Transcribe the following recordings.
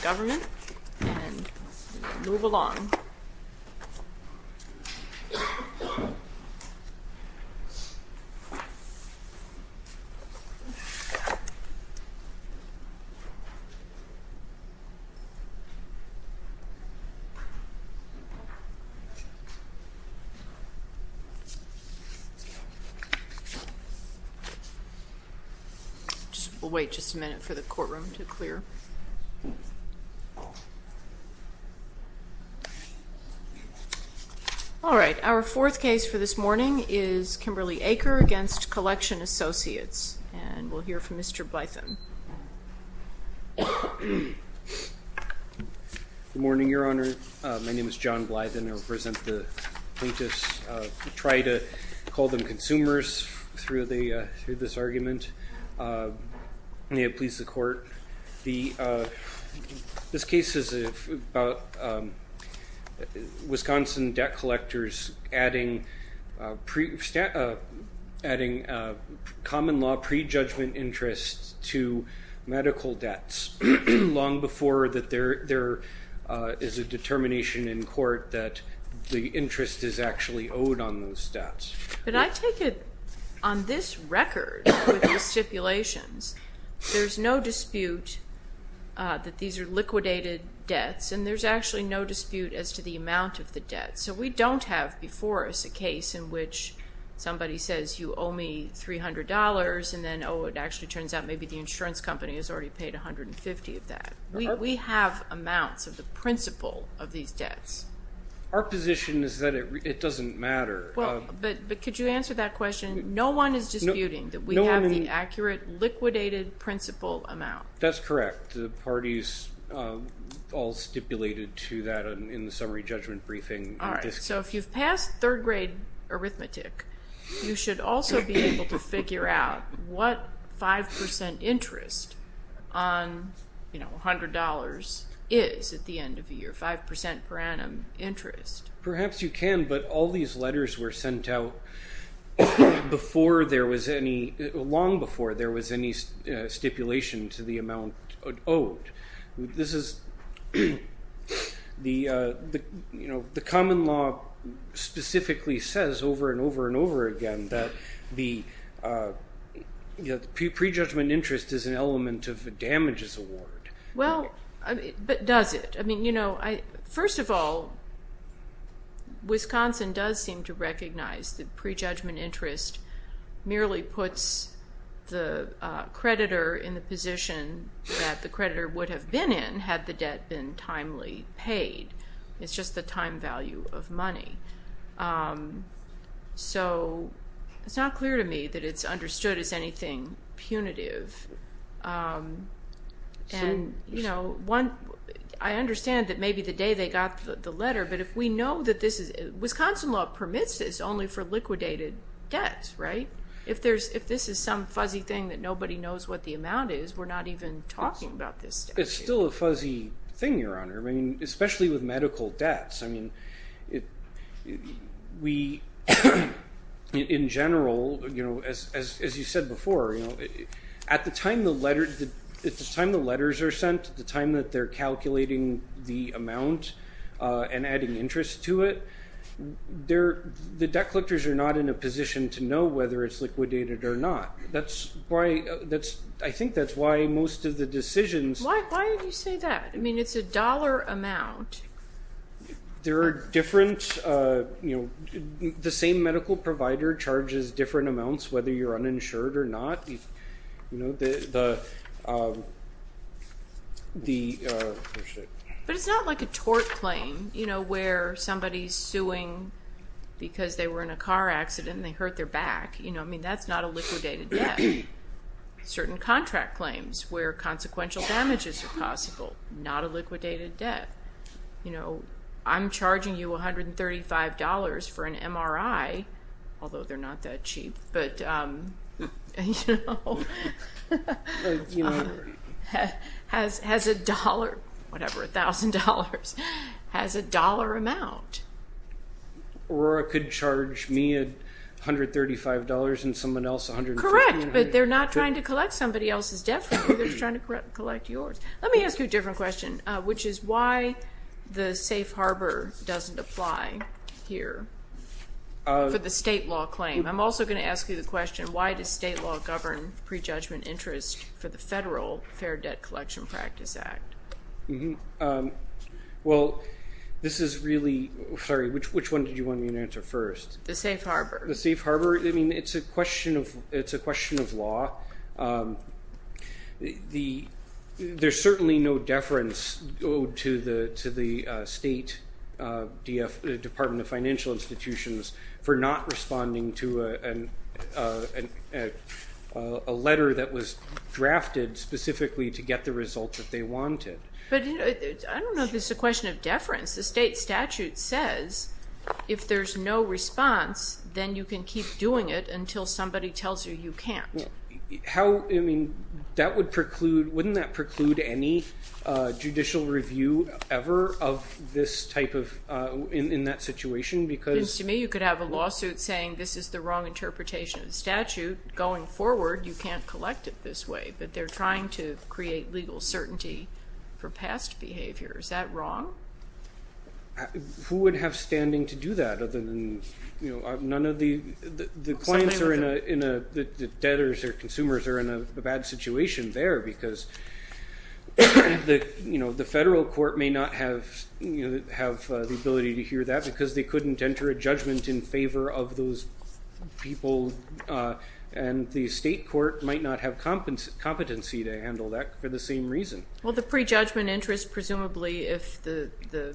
Government, and move along. We'll wait just a minute for the courtroom to clear. All right. Our fourth case for this morning is Kimberly Aker v. Collection Associates. And we'll hear from Mr. Blythin. Good morning, Your Honor. My name is John Blythin. I represent the plaintiffs. We try to call them consumers through this argument. May it please the court. This case is about Wisconsin debt collectors adding common law prejudgment interests to medical debts long before that there is a determination in court that the interest is actually owed on those debts. But I take it on this record with the stipulations, there's no dispute that these are liquidated debts. And there's actually no dispute as to the amount of the debt. So we don't have before us a case in which somebody says, you owe me $300, and then, oh, it actually turns out maybe the insurance company has already paid $150 of that. We have amounts of the principal of these debts. Our position is that it doesn't matter. But could you answer that question? No one is disputing that we have the accurate liquidated principal amount. That's correct. The parties all stipulated to that in the summary judgment briefing. All right. So if you've passed third grade arithmetic, you should also be able to figure out what 5% interest on $100 is at the end of the year, 5% per annum interest. Perhaps you can, but all these letters were sent out long before there was any stipulation to the amount owed. The common law specifically says over and over and over again that the prejudgment interest is an element of a damages award. Well, but does it? First of all, Wisconsin does seem to recognize that prejudgment interest merely puts the creditor in the position that the creditor would have been in had the debt been timely paid. It's just the time value of money. So it's not clear to me that it's understood as anything punitive. I understand that maybe the day they got the letter, but if we know that this is Wisconsin law permits this only for liquidated debts, right? If this is some fuzzy thing that nobody knows what the amount is, we're not even talking about this. It's still a fuzzy thing, Your Honor, especially with medical debts. In general, as you said before, at the time the letters are sent, the time that they're calculating the amount and adding interest to it, the debt collectors are not in a position to know whether it's liquidated or not. I think that's why most of the decisions... Why did you say that? I mean, it's a dollar amount. The same medical provider charges different amounts whether you're But it's not like a tort claim where somebody's suing because they were in a car accident and they hurt their back. That's not a liquidated debt. Certain contract claims where consequential damages are possible, not a liquidated debt. I'm charging you $135 for an MRI, although they're not that cheap, but you know, has a dollar, whatever, $1,000, has a dollar amount. Aurora could charge me $135 and someone else $150. Correct, but they're not trying to collect somebody else's debt from you. They're just trying to collect yours. Let me ask you a different question, which is why the safe harbor doesn't apply here for the state law claim. I'm also going to ask you the question, why does state law govern prejudgment interest for the federal Fair Debt Collection Practice Act? Which one did you want me to answer first? The safe harbor. It's a question of law. There's certainly no deference owed to the state Department of Financial Institutions for not responding to a letter that was drafted specifically to get the results that they wanted. I don't know if it's a question of deference. The state statute says if there's no I mean, wouldn't that preclude any judicial review ever in that situation? To me, you could have a lawsuit saying this is the wrong interpretation of the statute. Going forward, you can't collect it this way, but they're trying to create legal certainty for past behavior. Is that wrong? Who would have standing to do that other than the debtors or consumers are in a bad situation there because the federal court may not have the ability to hear that because they couldn't enter a judgment in favor of those people, and the state court might not have competency to handle that for the same reason. Well, the prejudgment interest, presumably if the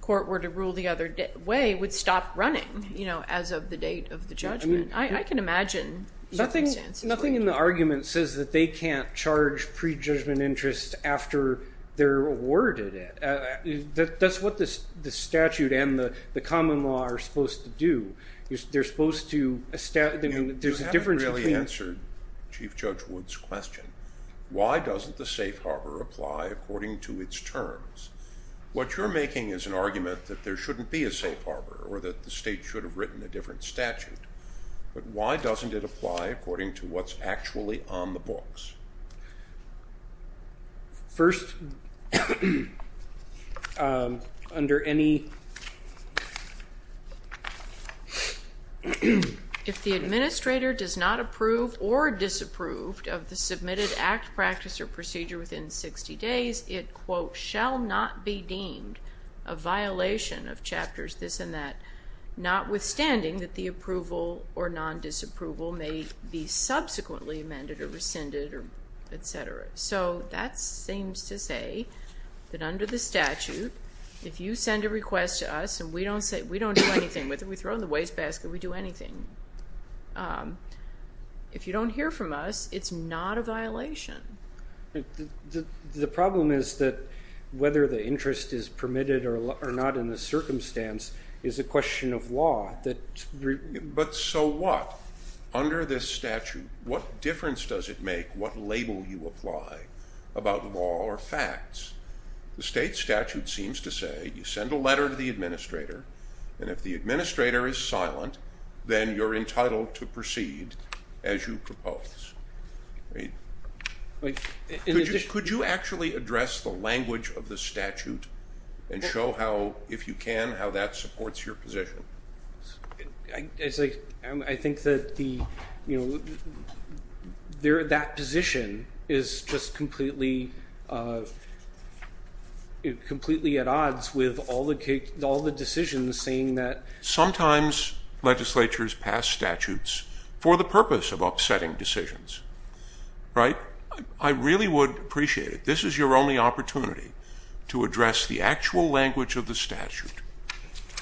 court were to rule the other way, would stop running as of the date of the judgment. I can imagine circumstances like that. Nothing in the argument says that they can't charge prejudgment interest after they're awarded it. That's what the statute and the common law are supposed to do. They're supposed to establish. You haven't really answered Chief Judge Wood's question. Why doesn't the safe harbor apply according to its terms? What you're making is an argument that there shouldn't be a safe harbor or that the state should have written a different statute, but why doesn't it apply according to what's actually on the books? First, under any... If the administrator does not approve or disapprove of the submitted act, practice, or procedure within 60 days, it, quote, shall not be deemed a violation of chapters this and that, notwithstanding that the approval or non-disapproval may be subsequently amended or rescinded, etc. That seems to say that under the statute, if you send a request to us and we don't do anything with it, we throw it in the wastebasket, we do anything. If you don't hear from us, it's not a violation. The problem is that whether the interest is permitted or not in the circumstance is a question of law. But so what? Under this statute, what difference does it make what label you apply about law or facts? The state statute seems to say you send a letter to the administrator, and if the administrator is silent, then you're entitled to proceed as you propose. Could you actually address the language of the statute and show how, if you can, how that supports your position? I think that that position is just completely at odds with all the decisions saying that sometimes legislatures pass statutes for the purpose of upsetting decisions. Right? I really would appreciate it. This is your only opportunity to address the actual language of the statute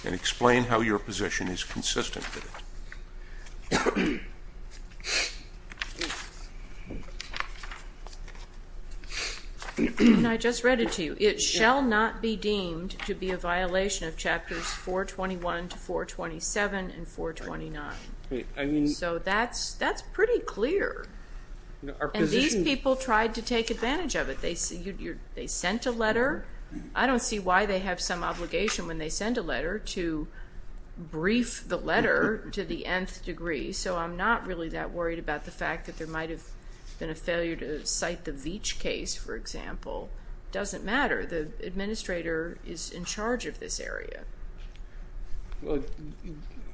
and explain how your position is consistent with it. I just read it to you. It shall not be deemed to be a violation of chapters 421 to 427 and 429. So that's pretty clear. And these people tried to take advantage of it. They sent a letter. I don't see why they have some obligation when they send a letter to brief the letter to the nth degree. So I'm not really that worried about the fact that there might have been a failure to cite the Veatch case, for example. It doesn't matter. The administrator is in charge of this area.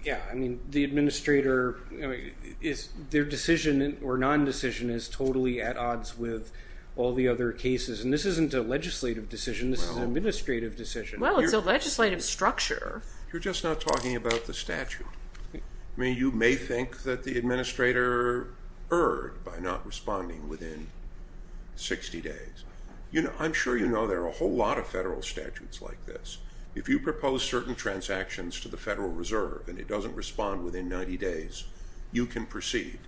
Yeah, I mean, the administrator their decision or non-decision is totally at odds with all the other cases. And this isn't a legislative decision. This is an administrative decision. Well, it's a legislative structure. You're just not talking about the statute. I mean, you may think that the administrator erred by not responding within 60 days. I'm sure you know there are a whole lot of federal statutes like this. If you propose certain transactions to the Federal Reserve and it doesn't respond within 90 days, you can proceed.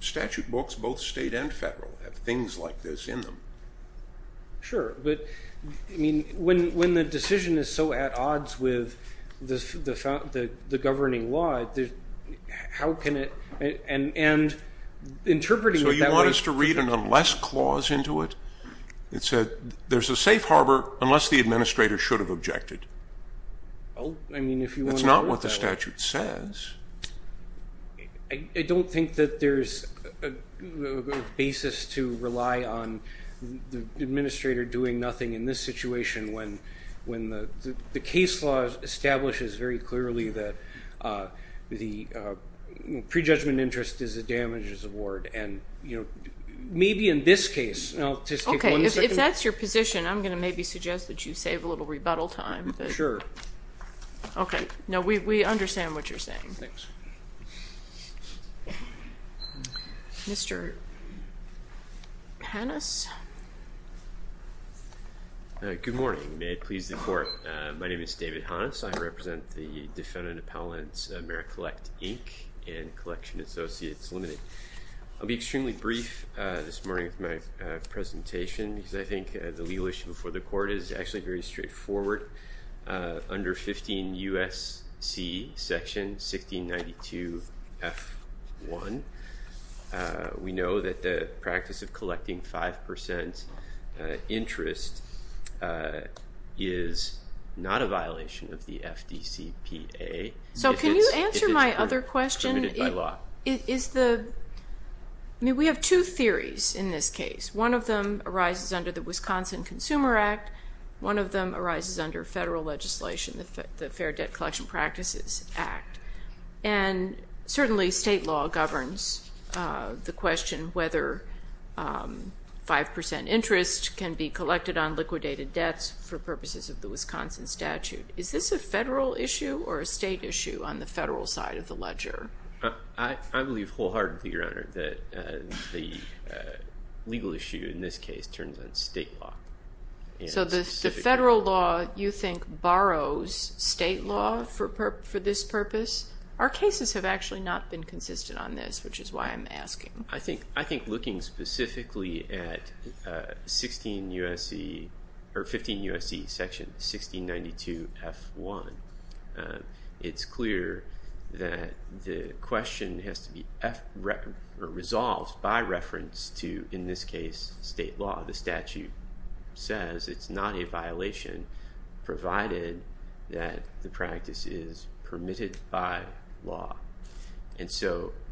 Statute books, both state and federal, have things like this in them. Sure, but when the decision is so at odds with the governing law, how can it So you want us to read an unless clause into it? It said there's a safe harbor unless the administrator should have objected. That's not what the statute says. I don't think that there's a basis to rely on the administrator doing nothing in this situation when the case law establishes very clearly that the prejudgment interest is a damages award. Maybe in this case... If that's your position, I'm going to maybe suggest that you save a little rebuttal time. We understand what you're saying. Thanks. Mr. Hannes? Good morning. May it please the Court. My name is David Hannes. I represent the defendant appellants Merit Collect, Inc. and Collection Associates Limited. I'll be extremely brief this morning with my presentation because I think the legal issue before the Court is actually very straightforward. Under 15 U.S.C. section 1692 F1, we know that the practice of collecting 5% interest is not a violation of the FDCPA. Can you answer my other question? We have two theories in this case. One of them arises under the Wisconsin Consumer Act. One of them arises under federal legislation, the Fair Debt Collection Practices Act. Certainly state law governs the question whether 5% interest can be collected on liquidated debts for purposes of the Wisconsin statute. Is this a federal issue or a state issue on the federal side of the ledger? I believe wholeheartedly, Your Honor, that the legal issue in this case turns on state law. So the federal law you think borrows state law for this purpose? Our cases have actually not been consistent on this, which is why I'm asking. I think looking specifically at 15 U.S.C. section 1692 F1, it's clear that the question has to be resolved by reference to, in this case, state law. The statute says it's not a violation provided that the practice is permitted by law.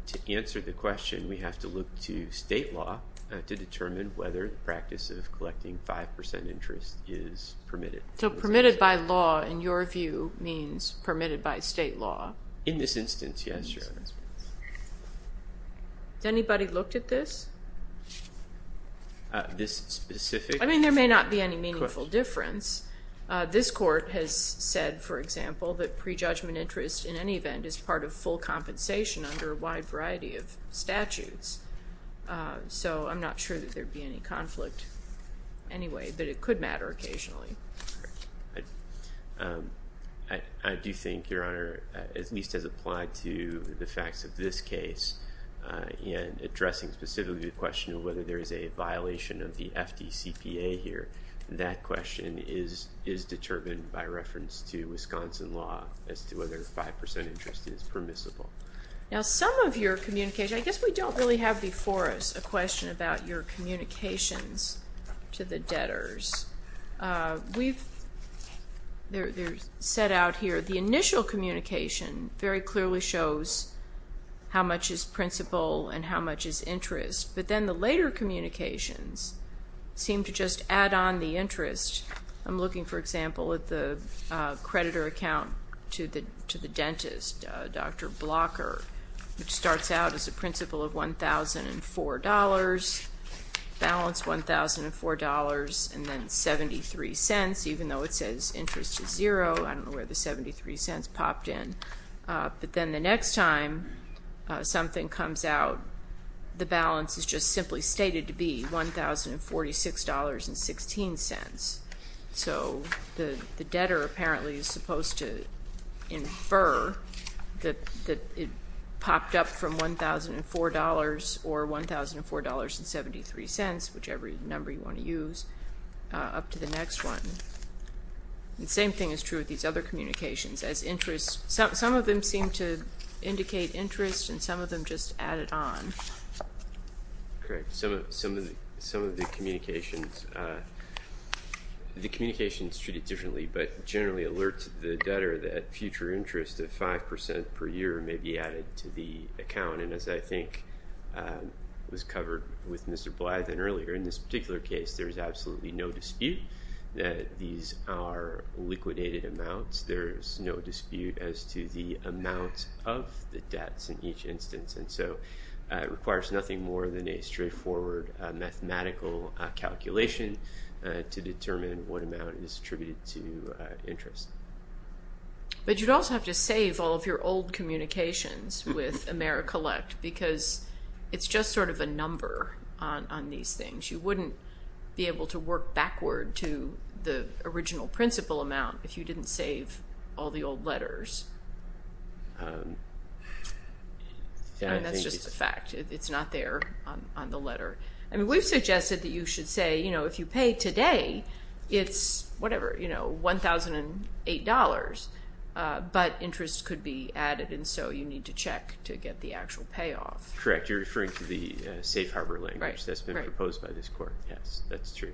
To answer the question, we have to look to state law to determine whether the practice of collecting 5% interest is permitted. So permitted by law, in your view, means permitted by state law? In this instance, yes, Your Honor. Has anybody looked at this? This specific question? I mean, there may not be any meaningful difference. This court has said, for example, that prejudgment interest in any event is part of full compensation under a wide variety of statutes. So I'm not sure that there would be any conflict anyway, but it could matter occasionally. I do think, Your Honor, at least as applied to the facts of this case, in addressing specifically the question of whether there is a violation of the FDCPA here, that question is determined by reference to some of your communications. I guess we don't really have before us a question about your communications to the debtors. They're set out here. The initial communication very clearly shows how much is principal and how much is interest, but then the later communications seem to just add on the interest. I'm looking, for example, at the which starts out as a principal of $1,004, balance $1,004, and then 73 cents, even though it says interest is zero. I don't know where the 73 cents popped in. But then the next time something comes out, the balance is just simply stated to be $1,046.16. So the debtor apparently is supposed to infer that it popped up from $1,004 or $1,004.73, whichever number you want to use, up to the next one. The same thing is true with these other communications. Some of them seem to indicate interest and some of them just add it on. Correct. Some of the communications treat it differently, but generally alert the debtor that future interest of 5% per year may be added to the account. And as I think was covered with Mr. Blythen earlier, in this particular case, there's absolutely no dispute that these are liquidated amounts. There's no dispute as to the amount of the debts in each calculation to determine what amount is attributed to interest. But you'd also have to save all of your old communications with AmeriCollect because it's just sort of a number on these things. You wouldn't be able to work backward to the original principal amount if you didn't save all the old letters. That's just a fact. It's not there on the letter. We've suggested that you should say if you pay today it's whatever, $1,008, but interest could be added and so you need to check to get the actual payoff. Correct. You're referring to the Safe Harbor language that's been proposed by this court. Yes, that's true.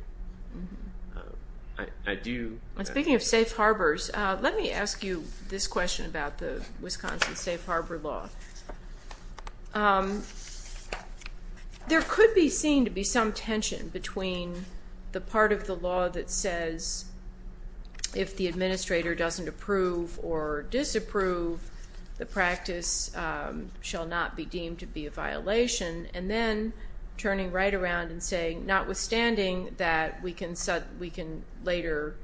Speaking of safe harbors, let me ask you this question about the Wisconsin Safe Harbor law. There could be seen to be some tension between the part of the law that says if the administrator doesn't approve or disapprove, the practice shall not be deemed to be a violation and then turning right around and saying notwithstanding that we can later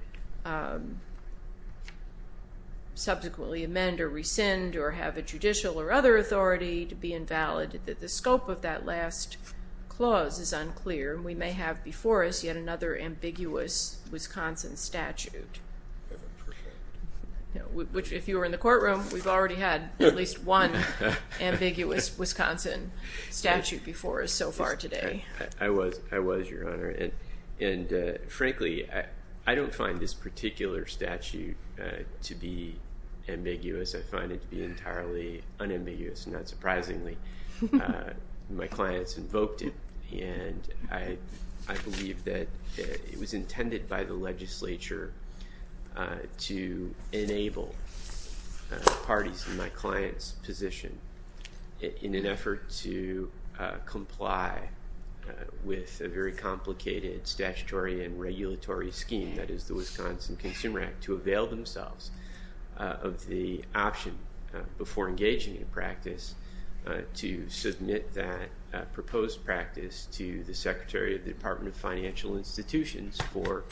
subsequently amend or rescind or have a judicial or other authority to be invalid, that the scope of that last clause is unclear. We may have before us yet another ambiguous statute before us so far today. I was, Your Honor, and frankly I don't find this particular statute to be ambiguous. I find it to be entirely unambiguous, not surprisingly. My clients invoked it and I believe that it was intended by the legislature to enable parties in my client's position in an effort to comply with a very complicated statutory and regulatory scheme, that is the Wisconsin Consumer Act, to avail themselves of the option before engaging in a practice to submit that proposed practice to the Secretary of the Department of Financial Institutions for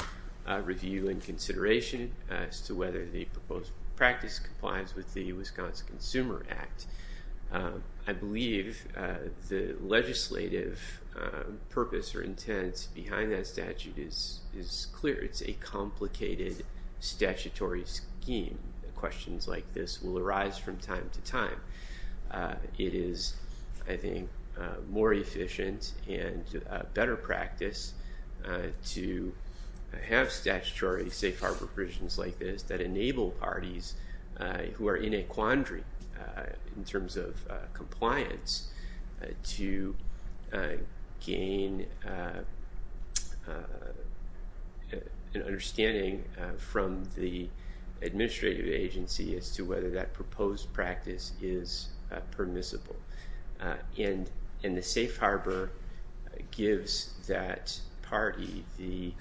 review and consideration as to whether the proposed practice complies with the Wisconsin Consumer Act. I believe the legislative purpose or intent behind that statute is clear. It's a complicated statutory scheme. Questions like this will arise from time to time. It is, I think, more efficient and a better practice to have statutory safe harbor provisions like this that enable parties who are in a quandary in terms of compliance to gain an understanding from the administrative agency as to whether that proposed practice is permissible. The safe harbor gives that party the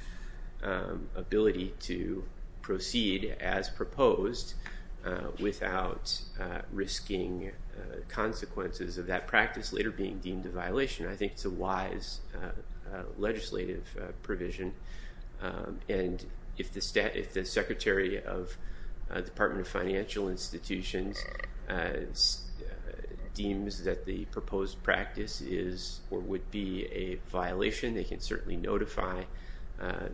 ability to proceed as proposed without risking consequences of that practice later being deemed a violation. I think it's a wise legislative provision. If the Secretary of the Department of Financial Institutions deems that the proposed practice is or would be a violation, they can certainly notify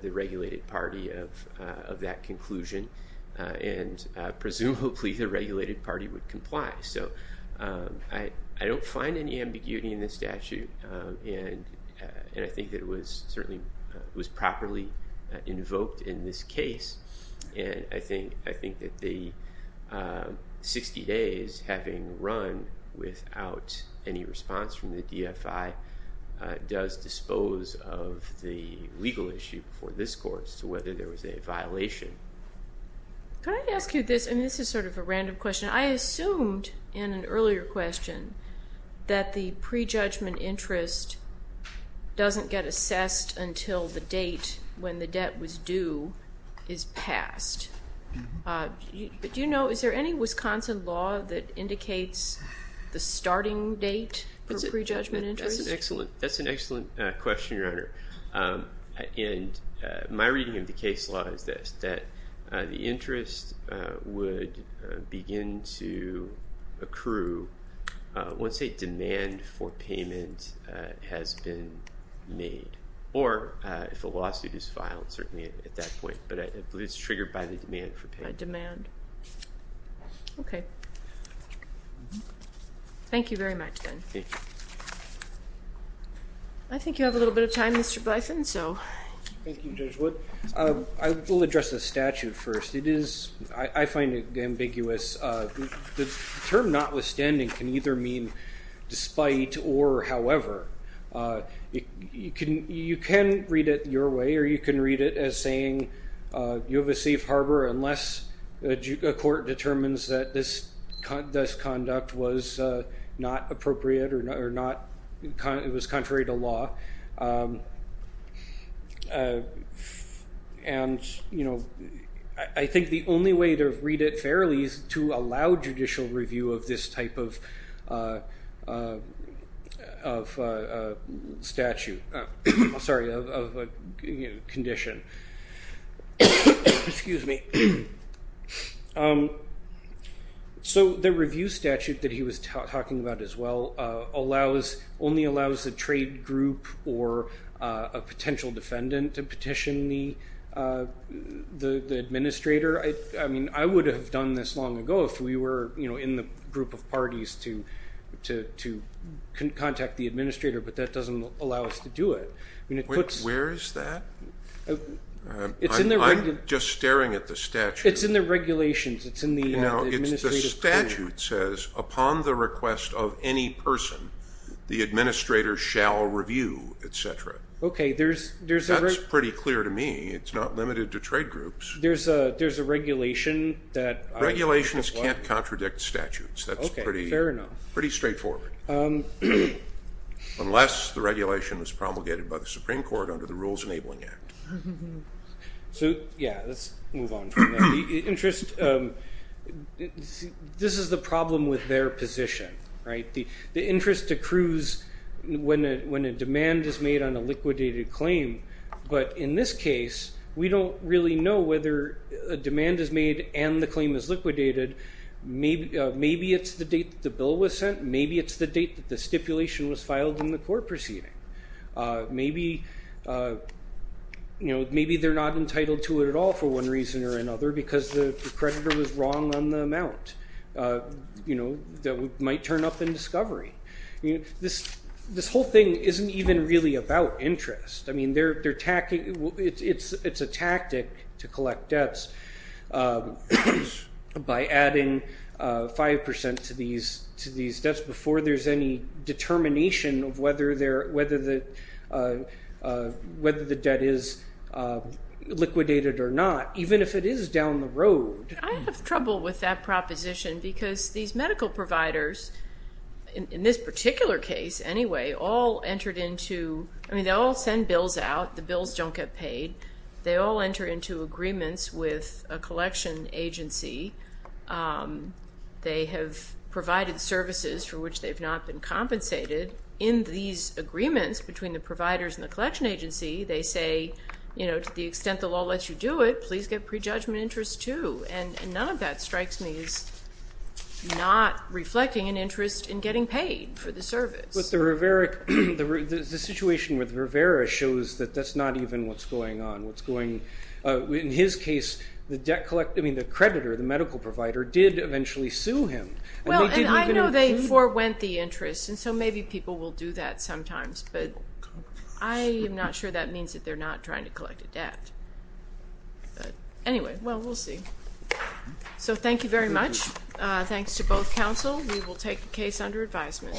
the regulated party of that conclusion. Presumably, the regulated party would comply. I don't find any ambiguity in this statute. I think it was properly invoked in this case. I think that the 60 days having run without any response from the DFI does dispose of the legal issue before this court as to whether there was a violation. Can I ask you this? This is sort of a random question. I assumed in an earlier question that the prejudgment interest doesn't get assessed until the date when the debt was due is passed. Is there any Wisconsin law that indicates the starting date for prejudgment interest? That's an excellent question, Your Honor. My reading of the case law is this, that the interest would begin to accrue once a demand for payment has been made or if a lawsuit is filed, certainly at that point, but it's triggered by the demand for payment. Thank you very much, then. I think you have a little bit of time, Mr. Blython. Thank you, Judge Wood. I will address the statute first. I find it ambiguous. The term notwithstanding can either mean despite or however. You can read it your way or you can read it as saying you have a safe harbor unless a court determines that this conduct was not appropriate or it was contrary to law. I think the only way to read it fairly is to allow judicial review of this type of condition. The review statute that he was talking about as well only allows a trade group or a potential defendant to petition the administrator. I would have done this long ago if we were in the group of parties to contact the administrator, but that doesn't allow us to do it. Where is that? I'm just staring at the statute. It's in the regulations. The statute says upon the request of any person, the administrator shall review, etc. That's pretty clear to me. It's not limited to trade groups. Regulations can't contradict statutes. That's pretty straightforward unless the regulation was promulgated by the Supreme Court under the Rules Enabling Act. This is the problem with their position. The interest accrues when a demand is made and the claim is liquidated. Maybe it's the date the bill was sent. Maybe it's the date the stipulation was filed in the court proceeding. Maybe they're not entitled to it at all for one reason or another because the creditor was wrong on the amount that might turn up in discovery. This whole thing isn't even really about interest. It's a tactic to collect debts by adding 5% to these debts before there's any determination of whether the debt is liquidated or not, even if it is down the road. I have trouble with that proposition because these all send bills out. The bills don't get paid. They all enter into agreements with a collection agency. They have provided services for which they've not been compensated. In these agreements between the providers and the collection agency, they say to the extent the law lets you do it, please get prejudgment interest too. None of that strikes me as not reflecting an interest in getting paid for the service. The situation with Rivera shows that that's not even what's going on. In his case, the creditor, the medical provider, did eventually sue him. I know they forwent the interest, so maybe people will do that sometimes. I'm not sure that means that they're not trying to collect a debt. Anyway, we'll see. Thank you very much. Thanks to both counsel. We will take the case under advisement.